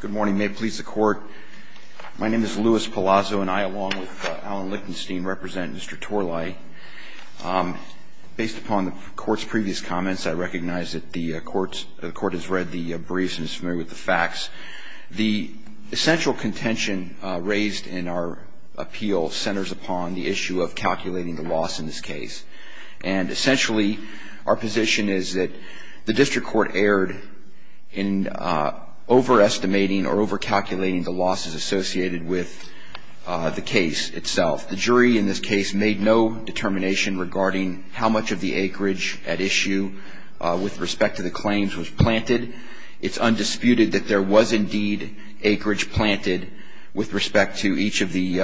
Good morning. May it please the Court, my name is Louis Palazzo and I, along with Alan Lichtenstein, represent Mr. Torlai. Based upon the Court's previous comments, I recognize that the Court has read the briefs and is familiar with the facts. The essential contention raised in our appeal centers upon the issue of calculating the loss in this case. And essentially, our position is that the District Court erred in overestimating or over-calculating the losses associated with the case itself. The jury in this case made no determination regarding how much of the acreage at issue with respect to the claims was planted. It's undisputed that there was indeed acreage planted with respect to each of the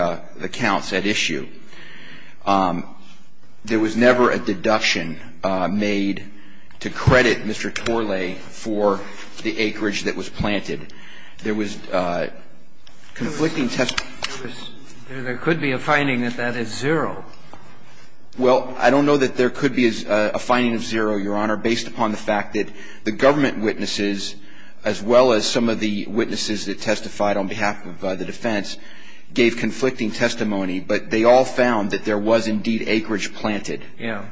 counts at issue. There was never a deduction made to credit Mr. Torlai for the acreage that was planted. There was conflicting testimony. There could be a finding that that is zero. Well, I don't know that there could be a finding of zero, Your Honor, based upon the fact that the government witnesses, as well as some of the witnesses that testified on behalf of the defense, gave conflicting testimony, but they all found that there was indeed acreage planted. Yeah.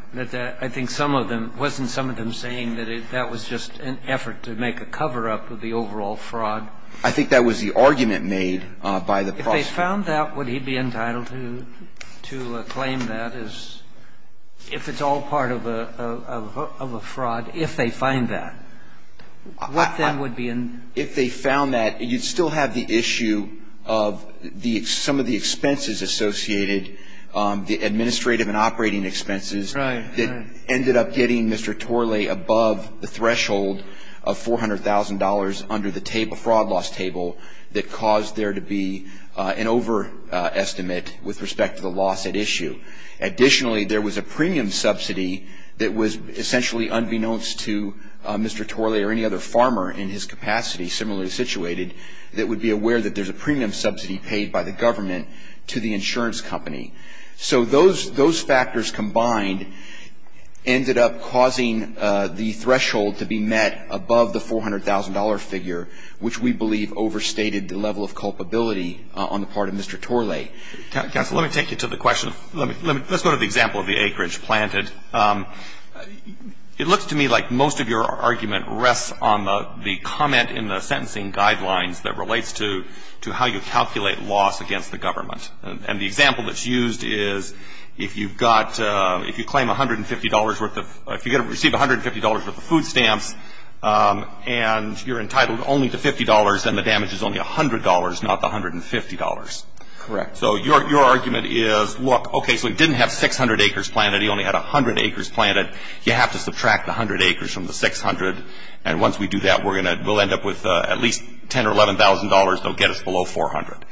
I think some of them — wasn't some of them saying that that was just an effort to make a cover-up of the overall fraud? I think that was the argument made by the prosecutor. If they found that, would he be entitled to claim that as — if it's all part of a fraud, if they find that? What then would be in — If they found that, you'd still have the issue of some of the expenses associated, the administrative and operating expenses that ended up getting Mr. Torlai above the threshold of $400,000 under the fraud loss table that caused there to be an overestimate with respect to the loss at issue. Additionally, there was a premium subsidy that was essentially unbeknownst to Mr. Torlai or any other farmer in his capacity, similarly situated, that would be aware that there's a premium subsidy paid by the government to the insurance company. So those factors combined ended up causing the threshold to be met above the $400,000 figure, which we believe overstated the level of culpability on the part of Mr. Torlai. Counsel, let me take you to the question. Let's go to the example of the acreage planted. It looks to me like most of your argument rests on the comment in the sentencing guidelines that relates to how you calculate loss against the government. And the example that's used is if you've got — if you claim $150 worth of — if you receive $150 worth of food stamps and you're entitled only to $50, then the damage is only $100, not the $150. Correct. So your argument is, look, okay, so he didn't have 600 acres planted. He only had 100 acres planted. You have to subtract the 100 acres from the 600. And once we do that, we're going to — we'll end up with at least $10,000 or $11,000. They'll get us below $400.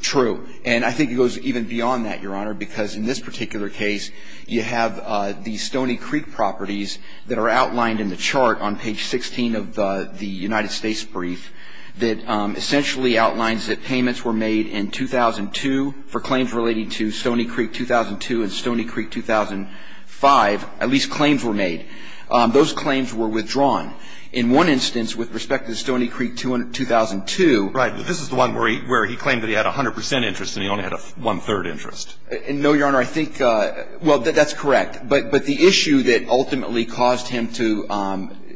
True. And I think it goes even beyond that, Your Honor, because in this particular case, you have the Stony Creek properties that are outlined in the chart on page 16 of the United States brief that essentially outlines that payments were made in 2002 for claims relating to Stony Creek 2002 and Stony Creek 2005. At least claims were made. Those claims were withdrawn. In one instance, with respect to the Stony Creek 2002 — Right. But this is the one where he — where he claimed that he had 100 percent interest and he only had one-third interest. No, Your Honor. I think — well, that's correct. But the issue that ultimately caused him to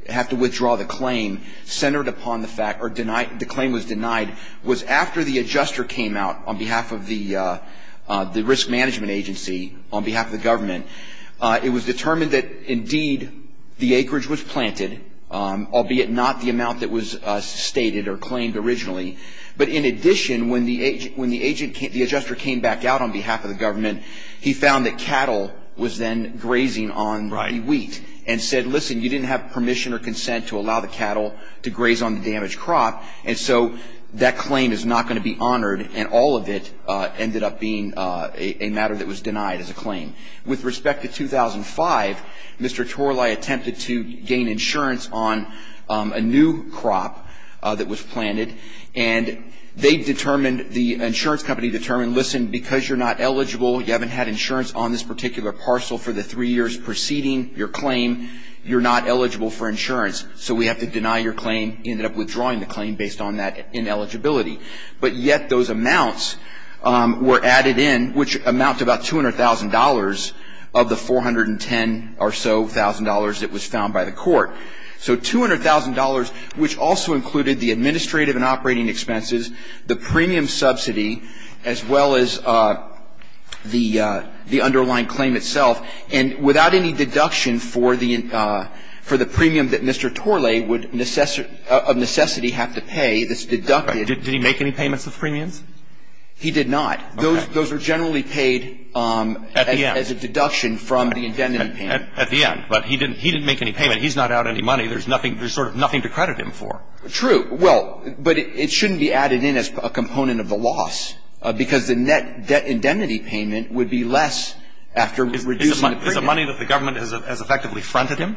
have to withdraw the claim centered upon the fact — or the claim was denied was after the adjuster came out on behalf of the risk management agency, on behalf of the government, it was determined that, indeed, the acreage was planted, albeit not the amount that was stated or claimed originally. But in addition, when the agent — when the adjuster came back out on behalf of the government, he found that cattle was then grazing on wheat and said, listen, you didn't have permission or consent to allow the cattle to graze on the damaged crop, and so that claim is not going to be honored, and all of it ended up being a matter that was denied as a claim. With respect to 2005, Mr. Torlai attempted to gain insurance on a new crop that was planted, and they determined — the insurance company determined, listen, because you're not eligible, you haven't had insurance on this particular parcel for the three years preceding your claim, you're not eligible for insurance, so we have to deny your claim. He ended up withdrawing the claim based on that ineligibility. But yet those amounts were added in, which amounted to about $200,000 of the $410,000 or so that was found by the court. So $200,000, which also included the administrative and operating expenses, the premium subsidy, as well as the underlying claim itself, and without any deduction for the premium that Mr. Torlai would of necessity have to pay that's deducted. Did he make any payments of premiums? He did not. Those are generally paid as a deduction from the indemnity payment. At the end. But he didn't make any payment. He's not out any money. There's nothing to credit him for. True. Well, but it shouldn't be added in as a component of the loss, because the net debt indemnity payment would be less after reducing the premium. Is it money that the government has effectively fronted him?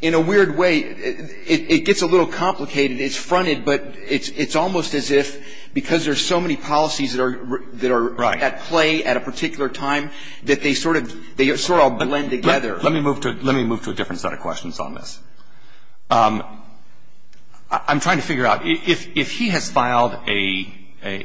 In a weird way. It gets a little complicated. It's fronted, but it's almost as if because there's so many policies that are at play at a particular time, that they sort of blend together. Let me move to a different set of questions on this. I'm trying to figure out, if he has filed an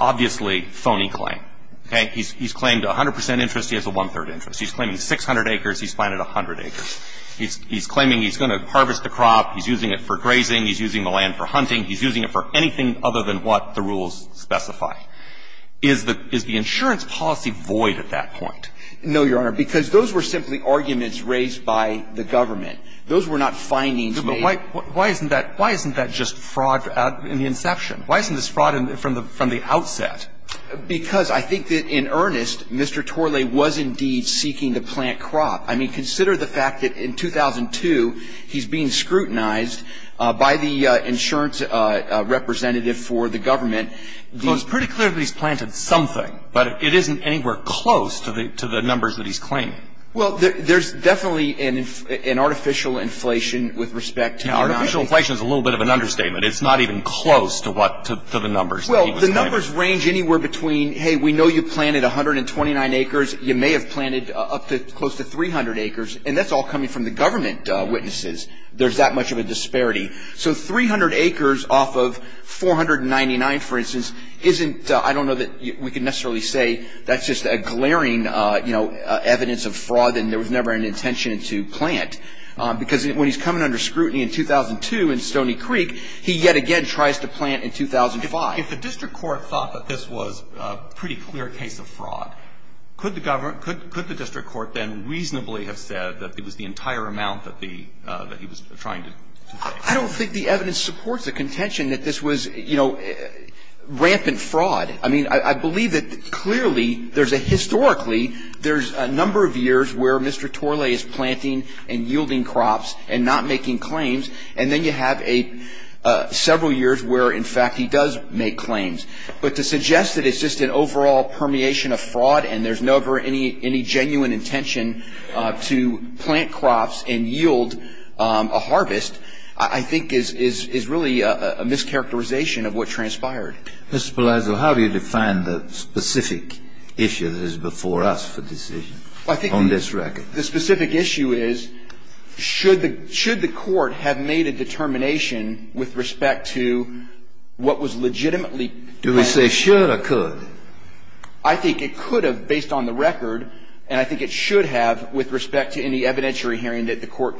obviously phony claim, okay? He's claimed 100 percent interest. He has a one-third interest. He's claiming 600 acres. He's planted 100 acres. He's claiming he's going to harvest the crop. He's using it for grazing. He's using the land for hunting. He's using it for anything other than what the rules specify. Is the insurance policy void at that point? No, Your Honor, because those were simply arguments raised by the government. Those were not findings made. Why isn't that just fraud in the inception? Why isn't this fraud from the outset? Because I think that in earnest, Mr. Torlay was indeed seeking to plant crop. I mean, consider the fact that in 2002, he's being scrutinized by the insurance representative for the government. Well, it's pretty clear that he's planted something, but it isn't anywhere close to the numbers that he's claiming. Well, there's definitely an artificial inflation with respect to the United States. Now, artificial inflation is a little bit of an understatement. It's not even close to the numbers that he was claiming. Well, the numbers range anywhere between, hey, we know you planted 129 acres. You may have planted up to close to 300 acres, and that's all coming from the government witnesses. There's that much of a disparity. So 300 acres off of 499, for instance, isn't, I don't know that we can necessarily say that's just a glaring, you know, evidence of fraud and there was never an intention to plant. Because when he's coming under scrutiny in 2002 in Stony Creek, he yet again tries to plant in 2005. If the district court thought that this was a pretty clear case of fraud, could the government, could the district court then reasonably have said that it was the entire amount that the, that he was trying to claim? I don't think the evidence supports the contention that this was, you know, rampant fraud. I mean, I believe that clearly there's a historically, there's a number of years where Mr. Torley is planting and yielding crops and not making claims. And then you have a several years where, in fact, he does make claims. But to suggest that it's just an overall permeation of fraud and there's never any genuine intention to plant crops and yield a harvest, I think is really a mischaracterization of what transpired. Mr. Palazzo, how do you define the specific issue that is before us for decision on this record? Well, I think the specific issue is should the Court have made a determination with respect to what was legitimately planted? Do we say should or could? I think it could have based on the record, and I think it should have with respect to any evidentiary hearing that the Court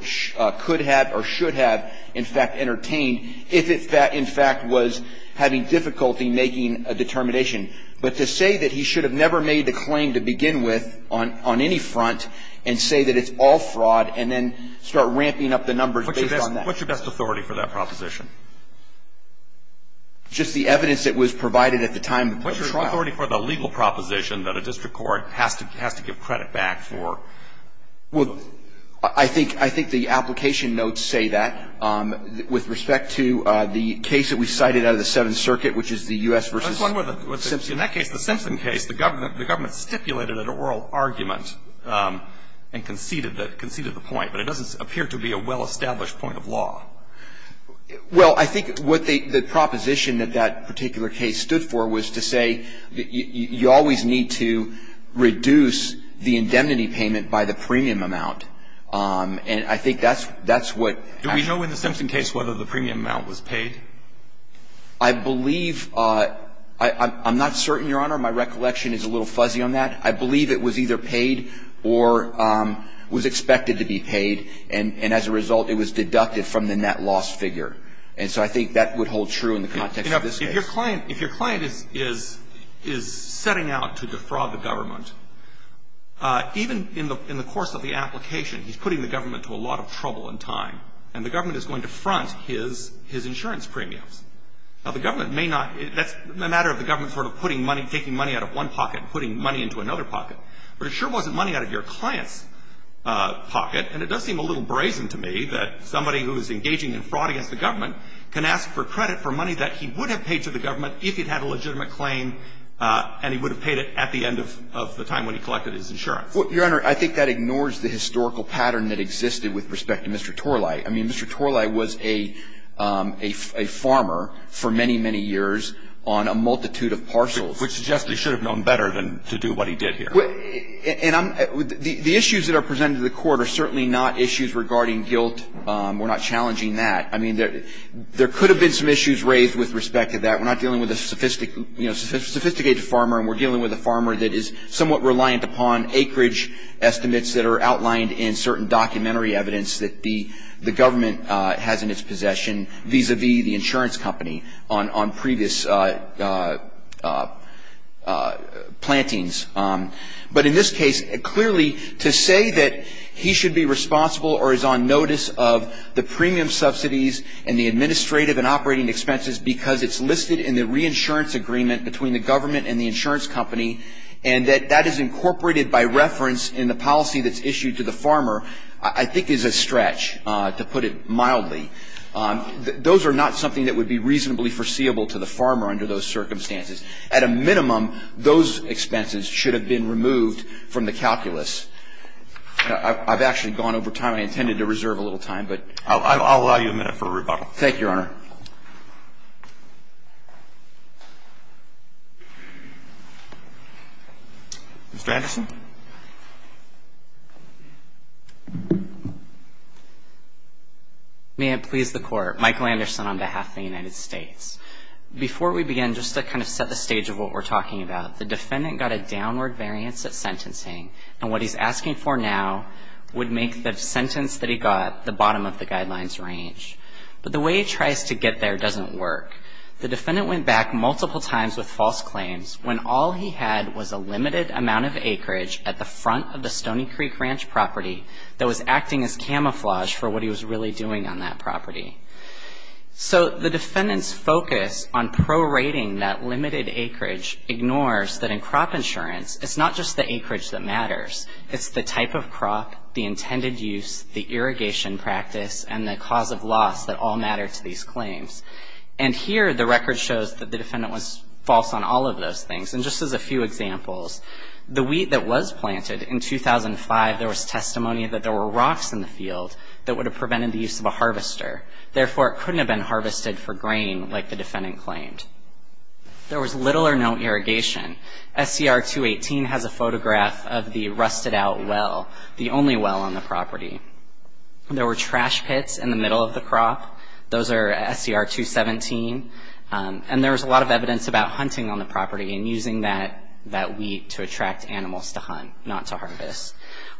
could have or should have, in fact, entertained, if it, in fact, was having difficulty making a determination. But to say that he should have never made the claim to begin with on any front and say that it's all fraud and then start ramping up the numbers based on that. What's your best authority for that proposition? Just the evidence that was provided at the time of the trial. What's your authority for the legal proposition that a district court has to give credit back for? Well, I think the application notes say that. With respect to the case that we cited out of the Seventh Circuit, which is the U.S. versus Simpson. In that case, the Simpson case, the government stipulated an oral argument and conceded it, conceded the point, but it doesn't appear to be a well-established point of law. Well, I think what the proposition that that particular case stood for was to say that you always need to reduce the indemnity payment by the premium amount. And I think that's what happened. Do we know in the Simpson case whether the premium amount was paid? I believe. I'm not certain, Your Honor. My recollection is a little fuzzy on that. I believe it was either paid or was expected to be paid, and as a result, it was deducted from the net loss figure. And so I think that would hold true in the context of this case. If your client is setting out to defraud the government, even in the course of the application, he's putting the government to a lot of trouble and time, and the government is going to front his insurance premiums. Now, the government may not, that's a matter of the government sort of putting money, taking money out of one pocket and putting money into another pocket. But it sure wasn't money out of your client's pocket, and it does seem a little brazen to me that somebody who is engaging in fraud against the government can ask for credit for money that he would have paid to the government if he'd had a legitimate claim, and he would have paid it at the end of the time when he collected his insurance. Well, Your Honor, I think that ignores the historical pattern that existed with respect to Mr. Torlai. I mean, Mr. Torlai was a farmer for many, many years on a multitude of parcels. Which suggests he should have known better than to do what he did here. The issues that are presented to the Court are certainly not issues regarding guilt. We're not challenging that. I mean, there could have been some issues raised with respect to that. We're not dealing with a sophisticated farmer, and we're dealing with a farmer that is somewhat reliant upon acreage estimates that are outlined in certain documentary evidence that the government has in its possession, vis-à-vis the insurance company on previous plantings. But in this case, clearly to say that he should be responsible or is on notice of the premium subsidies and the administrative and operating expenses because it's listed in the reinsurance agreement between the government and the insurance company, and that that is incorporated by reference in the policy that's issued to the farmer, I think is a stretch, to put it mildly. Those are not something that would be reasonably foreseeable to the farmer under those circumstances. At a minimum, those expenses should have been removed from the calculus. I've actually gone over time. I intended to reserve a little time, but ---- I'll allow you a minute for rebuttal. Thank you, Your Honor. Mr. Anderson? May it please the Court. Michael Anderson on behalf of the United States. Before we begin, just to kind of set the stage of what we're talking about, the defendant got a downward variance of sentencing, and what he's asking for now would make the sentence that he got the bottom of the guidelines range. But the way he tries to get there doesn't work. The defendant went back multiple times with false claims when all he had was a limited amount of acreage at the front of the Stony Creek Ranch property that was acting as camouflage for what he was really doing on that property. So the defendant's focus on prorating that limited acreage ignores that in crop insurance, it's not just the acreage that matters. It's the type of crop, the intended use, the irrigation practice, and the cause of loss that all matter to these claims. And here the record shows that the defendant was false on all of those things. And just as a few examples, the wheat that was planted in 2005, there was testimony that there were rocks in the field that would have prevented the use of a harvester. Therefore, it couldn't have been harvested for grain like the defendant claimed. There was little or no irrigation. SCR 218 has a photograph of the rusted out well, the only well on the property. There were trash pits in the middle of the crop. Those are SCR 217. And there was a lot of evidence about hunting on the property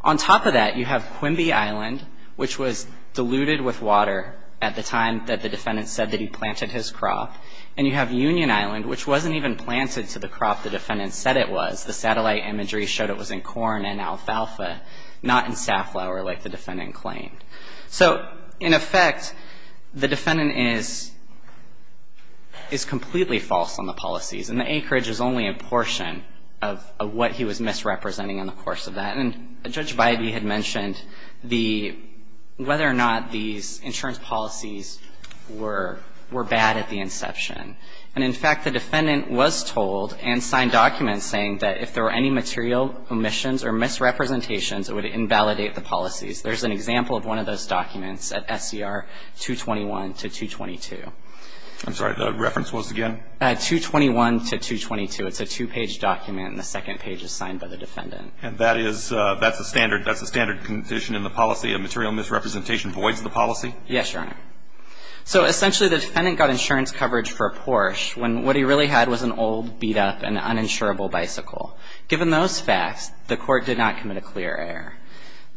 On top of that, you have Quimby Island, which was diluted with water at the time that the defendant said that he planted his crop. And you have Union Island, which wasn't even planted to the crop the defendant said it was. The satellite imagery showed it was in corn and alfalfa, not in safflower like the defendant claimed. So in effect, the defendant is completely false on the policies, and the acreage is only a portion of what he was misrepresenting in the course of that. And Judge Bidey had mentioned whether or not these insurance policies were bad at the inception. And in fact, the defendant was told and signed documents saying that if there were any material omissions or misrepresentations, it would invalidate the policies. There's an example of one of those documents at SCR 221 to 222. I'm sorry, the reference was again? At 221 to 222. It's a two-page document, and the second page is signed by the defendant. And that is the standard condition in the policy? A material misrepresentation voids the policy? Yes, Your Honor. So essentially, the defendant got insurance coverage for a Porsche when what he really had was an old, beat-up and uninsurable bicycle. Given those facts, the Court did not commit a clear error.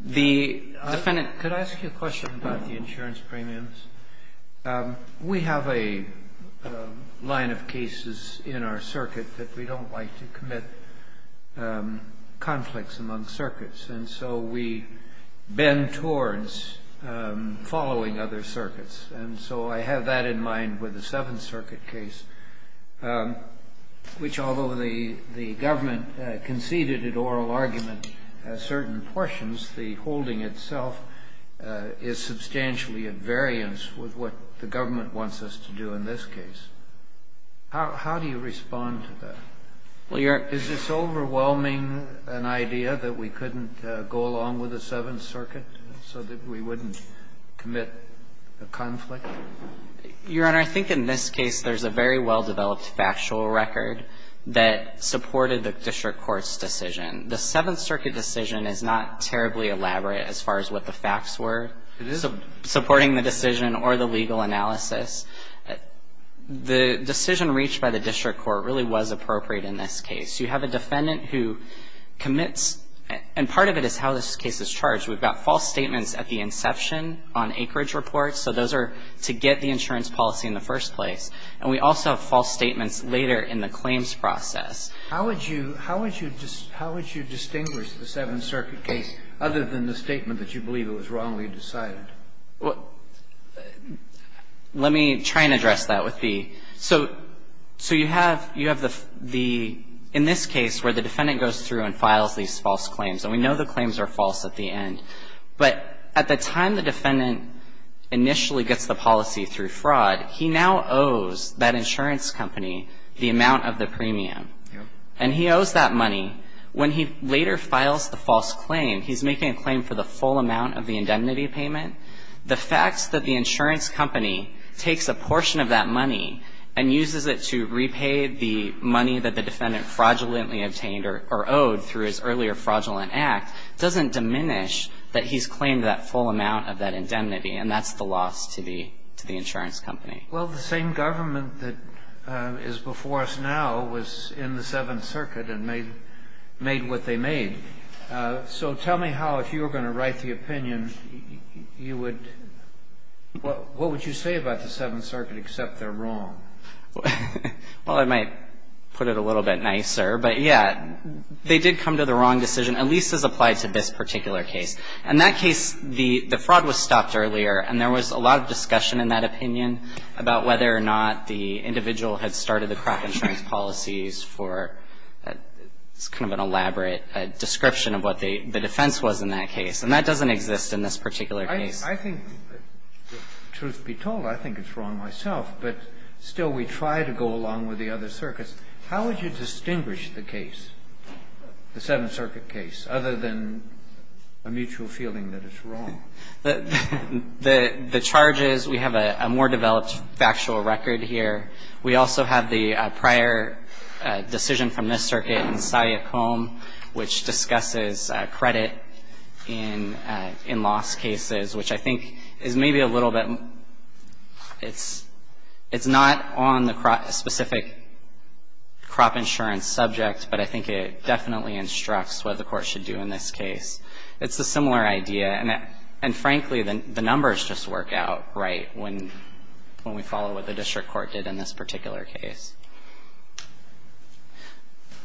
The defendant ---- Could I ask you a question about the insurance premiums? We have a line of cases in our circuit that we don't like to commit conflicts among circuits. And so we bend towards following other circuits. And so I have that in mind with the Seventh Circuit case, which although the government conceded oral argument at certain portions, the holding itself is substantially at variance with what the government wants us to do in this case. How do you respond to that? Well, Your Honor ---- Is this overwhelming an idea that we couldn't go along with the Seventh Circuit so that we wouldn't commit a conflict? Your Honor, I think in this case there's a very well-developed factual record that supported the District Court's decision. The Seventh Circuit decision is not terribly elaborate as far as what the facts were. It isn't supporting the decision or the legal analysis. The decision reached by the District Court really was appropriate in this case. You have a defendant who commits, and part of it is how this case is charged. We've got false statements at the inception on acreage reports. So those are to get the insurance policy in the first place. And we also have false statements later in the claims process. How would you distinguish the Seventh Circuit case other than the statement that you believe it was wrongly decided? Well, let me try and address that with the ---- So you have the ---- in this case where the defendant goes through and files these false claims, and we know the claims are false at the end. But at the time the defendant initially gets the policy through fraud, he now owes that insurance company the amount of the premium. And he owes that money. When he later files the false claim, he's making a claim for the full amount of the indemnity payment. The fact that the insurance company takes a portion of that money and uses it to repay the money that the defendant fraudulently obtained or owed through his earlier fraudulent act doesn't diminish that he's claimed that full amount of that indemnity, and that's the loss to the insurance company. Well, the same government that is before us now was in the Seventh Circuit and made what they made. So tell me how, if you were going to write the opinion, you would ---- What would you say about the Seventh Circuit except they're wrong? Well, I might put it a little bit nicer. But, yeah, they did come to the wrong decision, at least as applied to this particular case. In that case, the fraud was stopped earlier, and there was a lot of discussion in that opinion about whether or not the individual had started the crack insurance policies for kind of an elaborate description of what the defense was in that case. And that doesn't exist in this particular case. I think, truth be told, I think it's wrong myself. But still, we try to go along with the other circuits. How would you distinguish the case, the Seventh Circuit case, other than a mutual feeling that it's wrong? The charge is we have a more developed factual record here. We also have the prior decision from this circuit in Saia Combe, which discusses credit in loss cases, which I think is maybe a little bit ---- It's not on the specific crop insurance subject, but I think it definitely instructs what the Court should do in this case. It's a similar idea. And, frankly, the numbers just work out right when we follow what the district court did in this particular case.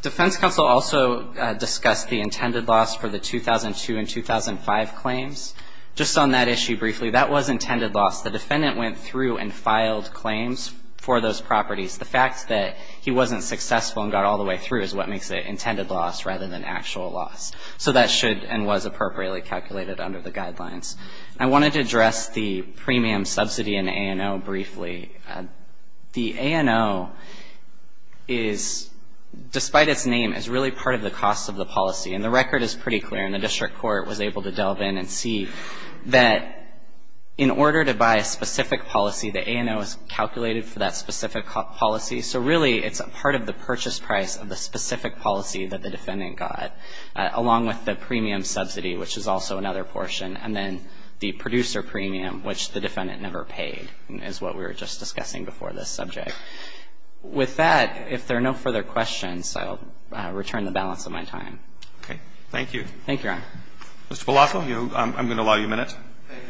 Defense counsel also discussed the intended loss for the 2002 and 2005 claims. Just on that issue briefly, that was intended loss. The defendant went through and filed claims for those properties. The fact that he wasn't successful and got all the way through is what makes it intended loss rather than actual loss. So that should and was appropriately calculated under the guidelines. I wanted to address the premium subsidy in A&O briefly. The A&O is, despite its name, is really part of the cost of the policy. And the record is pretty clear. And the district court was able to delve in and see that in order to buy a specific policy, the A&O is calculated for that specific policy. So, really, it's a part of the purchase price of the specific policy that the So that's what we're discussing here. And then along with the premium subsidy, which is also another portion, and then the producer premium, which the defendant never paid, is what we were just discussing before this subject. With that, if there are no further questions, I'll return the balance of my time. Roberts. Okay. Thank you. Thank you, Your Honor. Mr. Palazzo, I'm going to allow you a minute. Thank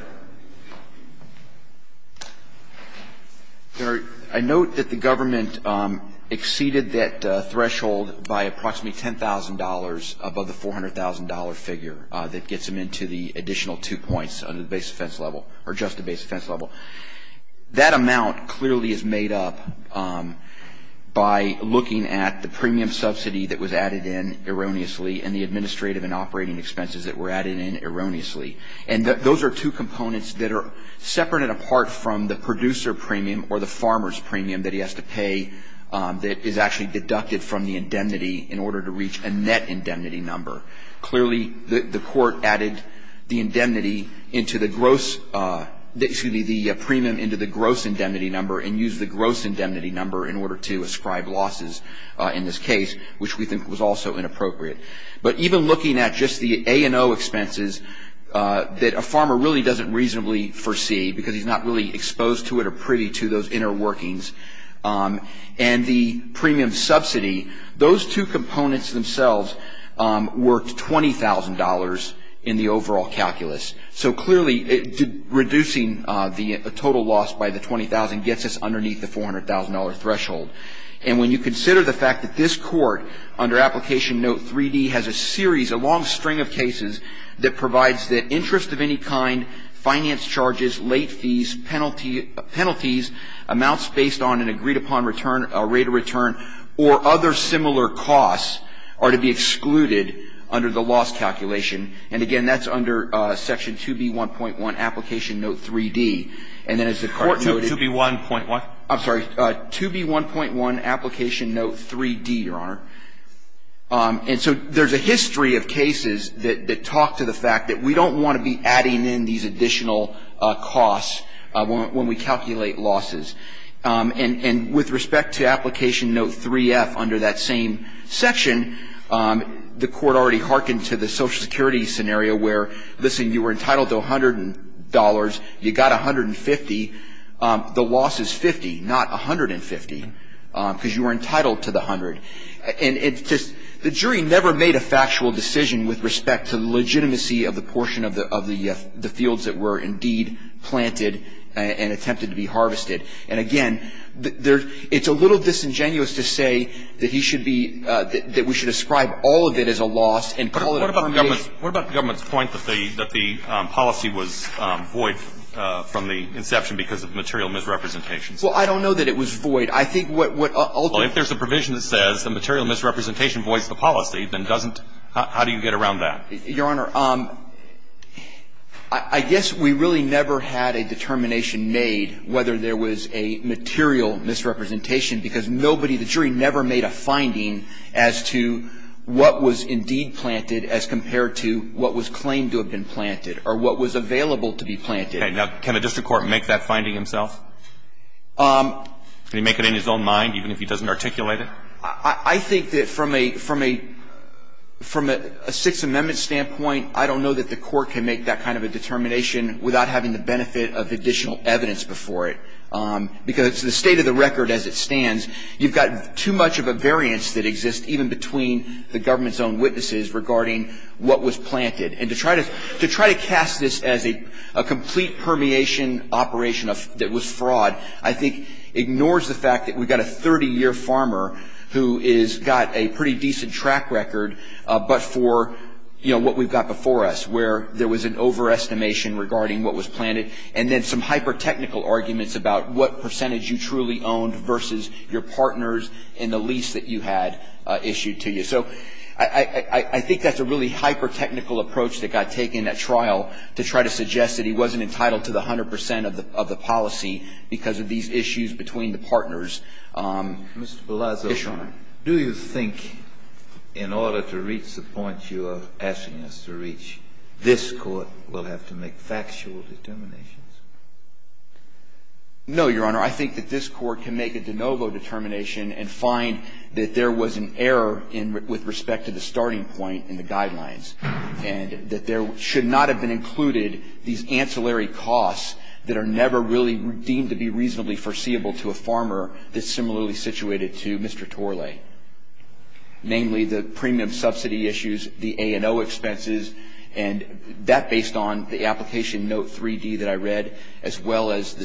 you, Your Honor. Your Honor, I note that the government exceeded that threshold by approximately $10,000 above the $400,000 figure that gets them into the additional two points under the base offense level, or just the base offense level. That amount clearly is made up by looking at the premium subsidy that was added in erroneously and the administrative and operating expenses that were added in erroneously. And those are two components that are separate and apart from the producer premium or the farmer's premium that he has to pay that is actually deducted from the indemnity in order to reach a net indemnity number. Clearly, the court added the indemnity into the gross – excuse me, the premium into the gross indemnity number and used the gross indemnity number in order to ascribe losses in this case, which we think was also inappropriate. But even looking at just the A&O expenses that a farmer really doesn't reasonably foresee because he's not really exposed to it or privy to those inner workings and the premium subsidy, those two components themselves worked $20,000 in the overall calculus. So clearly, reducing the total loss by the $20,000 gets us underneath the $400,000 threshold. And when you consider the fact that this Court, under Application Note 3D, has a series, a long string of cases that provides that interest of any kind, finance charges, late fees, penalty – penalties, amounts based on an agreed-upon return – rate of return or other similar costs are to be excluded under the loss calculation. And again, that's under Section 2B1.1, Application Note 3D. And then as the Court noted – 2B1.1? I'm sorry. 2B1.1, Application Note 3D, Your Honor. And so there's a history of cases that talk to the fact that we don't want to be adding in these additional costs when we calculate losses. And with respect to Application Note 3F, under that same section, the Court already hearkened to the Social Security scenario where, listen, you were entitled to $100. You got $150. The loss is $50, not $150, because you were entitled to the $100. And it's just – the jury never made a factual decision with respect to the legitimacy of the portion of the fields that were indeed planted and attempted to be harvested. And again, there's – it's a little disingenuous to say that he should be – that we should ascribe all of it as a loss and call it a permeation. What about the government's point that the policy was void from the inception because of material misrepresentations? Well, I don't know that it was void. I think what ultimately – Well, if there's a provision that says the material misrepresentation voids the policy, then doesn't – how do you get around that? Your Honor, I guess we really never had a determination made whether there was a material misrepresentation, because nobody – the jury never made a finding as to what was indeed planted as compared to what was claimed to have been planted or what was available to be planted. Okay. Now, can a district court make that finding himself? Can he make it in his own mind, even if he doesn't articulate it? I think that from a – from a – from a Sixth Amendment standpoint, I don't know that the court can make that kind of a determination without having the benefit of additional evidence before it. Because the state of the record as it stands, you've got too much of a variance that exists even between the government's own witnesses regarding what was planted. And to try to – to try to cast this as a complete permeation operation that was fraud, I think ignores the fact that we've got a 30-year farmer who has got a pretty decent track record, but for, you know, what we've got before us, where there was an overestimation regarding what was planted. And then some hyper-technical arguments about what percentage you truly owned versus your partners in the lease that you had issued to you. So I think that's a really hyper-technical approach that got taken at trial to try to suggest that he wasn't entitled to the 100 percent of the policy because of these issues between the partners. Mr. Palazzo. Yes, Your Honor. Do you think in order to reach the point you are asking us to reach, this Court will have to make factual determinations? No, Your Honor. Your Honor, I think that this Court can make a de novo determination and find that there was an error with respect to the starting point in the guidelines and that there should not have been included these ancillary costs that are never really deemed to be reasonably foreseeable to a farmer that's similarly situated to Mr. Torlay, namely the premium subsidy issues, the A&O expenses, and that based on the application note 3-D that I read, as well as a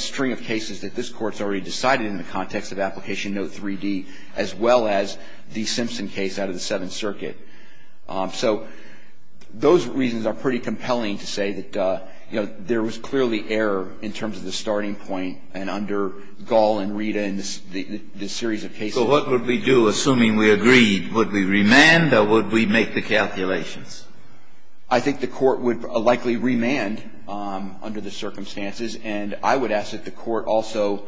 string of cases that this Court's already decided in the context of application note 3-D, as well as the Simpson case out of the Seventh Circuit. So those reasons are pretty compelling to say that, you know, there was clearly error in terms of the starting point and under Gall and Rita and this series of cases. So what would we do, assuming we agreed? Would we remand or would we make the calculations? I think the Court would likely remand under the circumstances. And I would ask that the Court also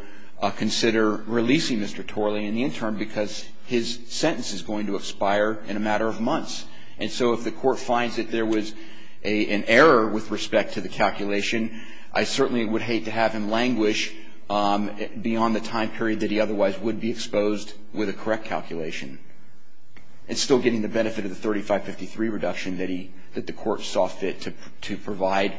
consider releasing Mr. Torlay in the interim because his sentence is going to expire in a matter of months. And so if the Court finds that there was an error with respect to the calculation, I certainly would hate to have him languish beyond the time period that he otherwise would be exposed with a correct calculation. And still getting the benefit of the 3553 reduction that he – that the Court saw fit to provide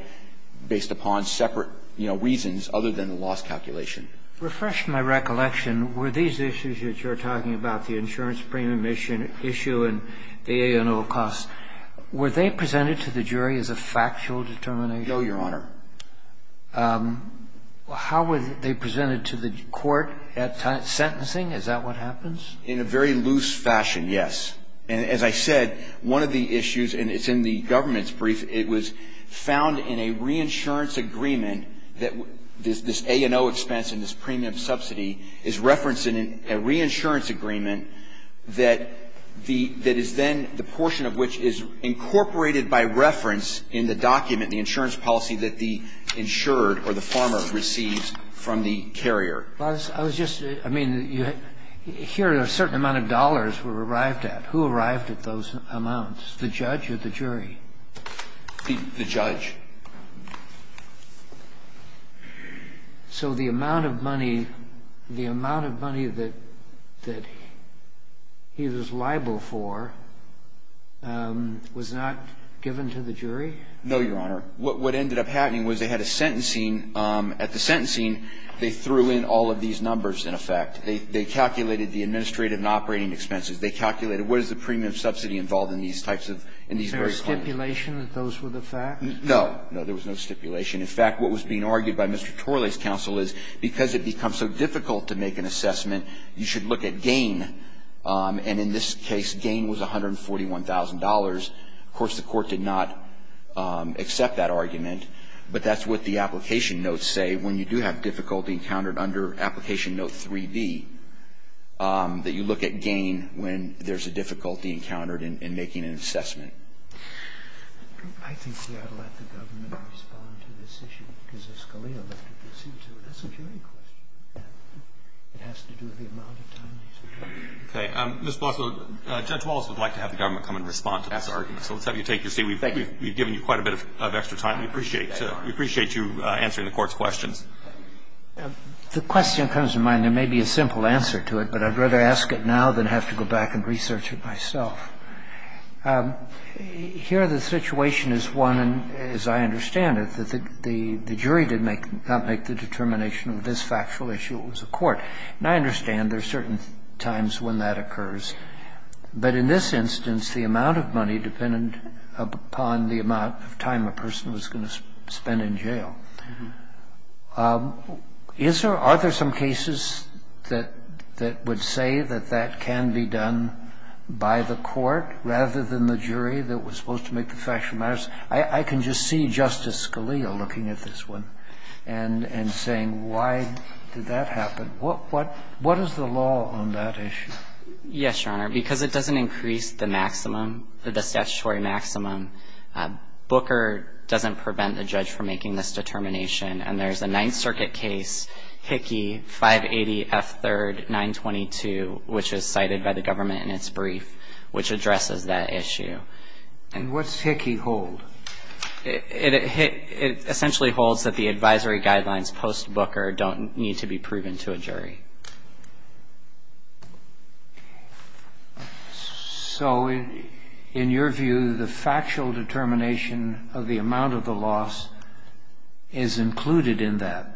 based upon separate, you know, reasons other than the loss calculation. Refresh my recollection. Were these issues that you're talking about, the insurance premium issue and the A&O costs, were they presented to the jury as a factual determination? No, Your Honor. How were they presented to the Court at sentencing? Is that what happens? In a very loose fashion, yes. And as I said, one of the issues, and it's in the government's brief, it was found in a reinsurance agreement that this A&O expense and this premium subsidy is referenced in a reinsurance agreement that the – that is then the portion of which is incorporated by reference in the document, the insurance policy that the insured or the farmer receives from the carrier. Well, I was just – I mean, here a certain amount of dollars were arrived at. Who arrived at those amounts, the judge or the jury? The judge. So the amount of money – the amount of money that he was liable for was not given to the jury? No, Your Honor. What ended up happening was they had a sentencing. At the sentencing, they threw in all of these numbers, in effect. They calculated the administrative and operating expenses. They calculated what is the premium subsidy involved in these types of – in these very columns. Was there a stipulation that those were the facts? No. No, there was no stipulation. In fact, what was being argued by Mr. Torley's counsel is because it becomes so difficult to make an assessment, you should look at gain. And in this case, gain was $141,000. Of course, the court did not accept that argument, but that's what the application notes say. When you do have difficulty encountered under application note 3B, that you look at gain when there's a difficulty encountered in making an assessment. I think we ought to let the government respond to this issue because if Scalia left it, we'll see, too. That's a jury question. It has to do with the amount of time he spent. Okay. Mr. Blosser, Judge Wallace would like to have the government come and respond to this argument, so let's have you take your seat. Thank you. We've given you quite a bit of extra time. We appreciate you answering the Court's questions. The question comes to mind. There may be a simple answer to it, but I'd rather ask it now than have to go back and research it myself. Here the situation is one, as I understand it, that the jury did not make the determination of this factual issue. It was the court. And I understand there are certain times when that occurs. But in this instance, the amount of money depended upon the amount of time a person was going to spend in jail. Is there or are there some cases that would say that that can be done by the court rather than the jury that was supposed to make the factual matters? I can just see Justice Scalia looking at this one and saying, why did that happen? What is the law on that issue? Yes, Your Honor. Because it doesn't increase the maximum, the statutory maximum, Booker doesn't prevent the judge from making this determination. And there's a Ninth Circuit case, Hickey 580F3-922, which is cited by the government in its brief, which addresses that issue. And what's Hickey hold? It essentially holds that the advisory guidelines post-Booker don't need to be proven to a jury. So in your view, the factual determination of the amount of the loss is included in that,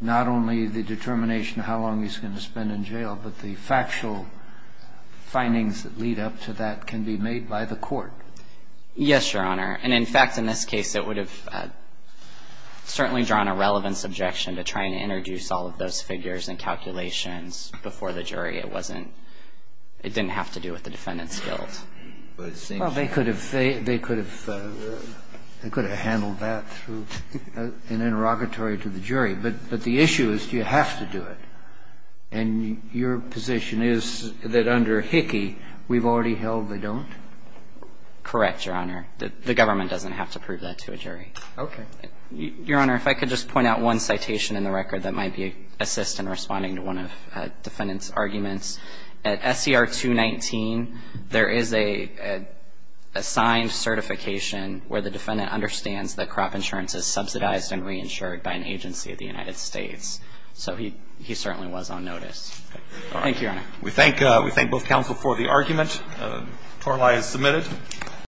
not only the determination of how long he's going to spend in jail, but the factual findings that lead up to that can be made by the court? Yes, Your Honor. And, in fact, in this case, it would have certainly drawn a relevant subjection to trying to introduce all of those figures and calculations before the jury. It wasn't – it didn't have to do with the Defendant's guilt. Well, they could have – they could have handled that through an interrogatory to the jury. But the issue is, do you have to do it? And your position is that under Hickey, we've already held they don't? Correct, Your Honor. The government doesn't have to prove that to a jury. Okay. Your Honor, if I could just point out one citation in the record that might be assist in responding to one of the Defendant's arguments. At SCR 219, there is a signed certification where the Defendant understands that crop insurance is subsidized and reinsured by an agency of the United States. So he certainly was on notice. Thank you, Your Honor. We thank both counsel for the argument. Torlai is submitted.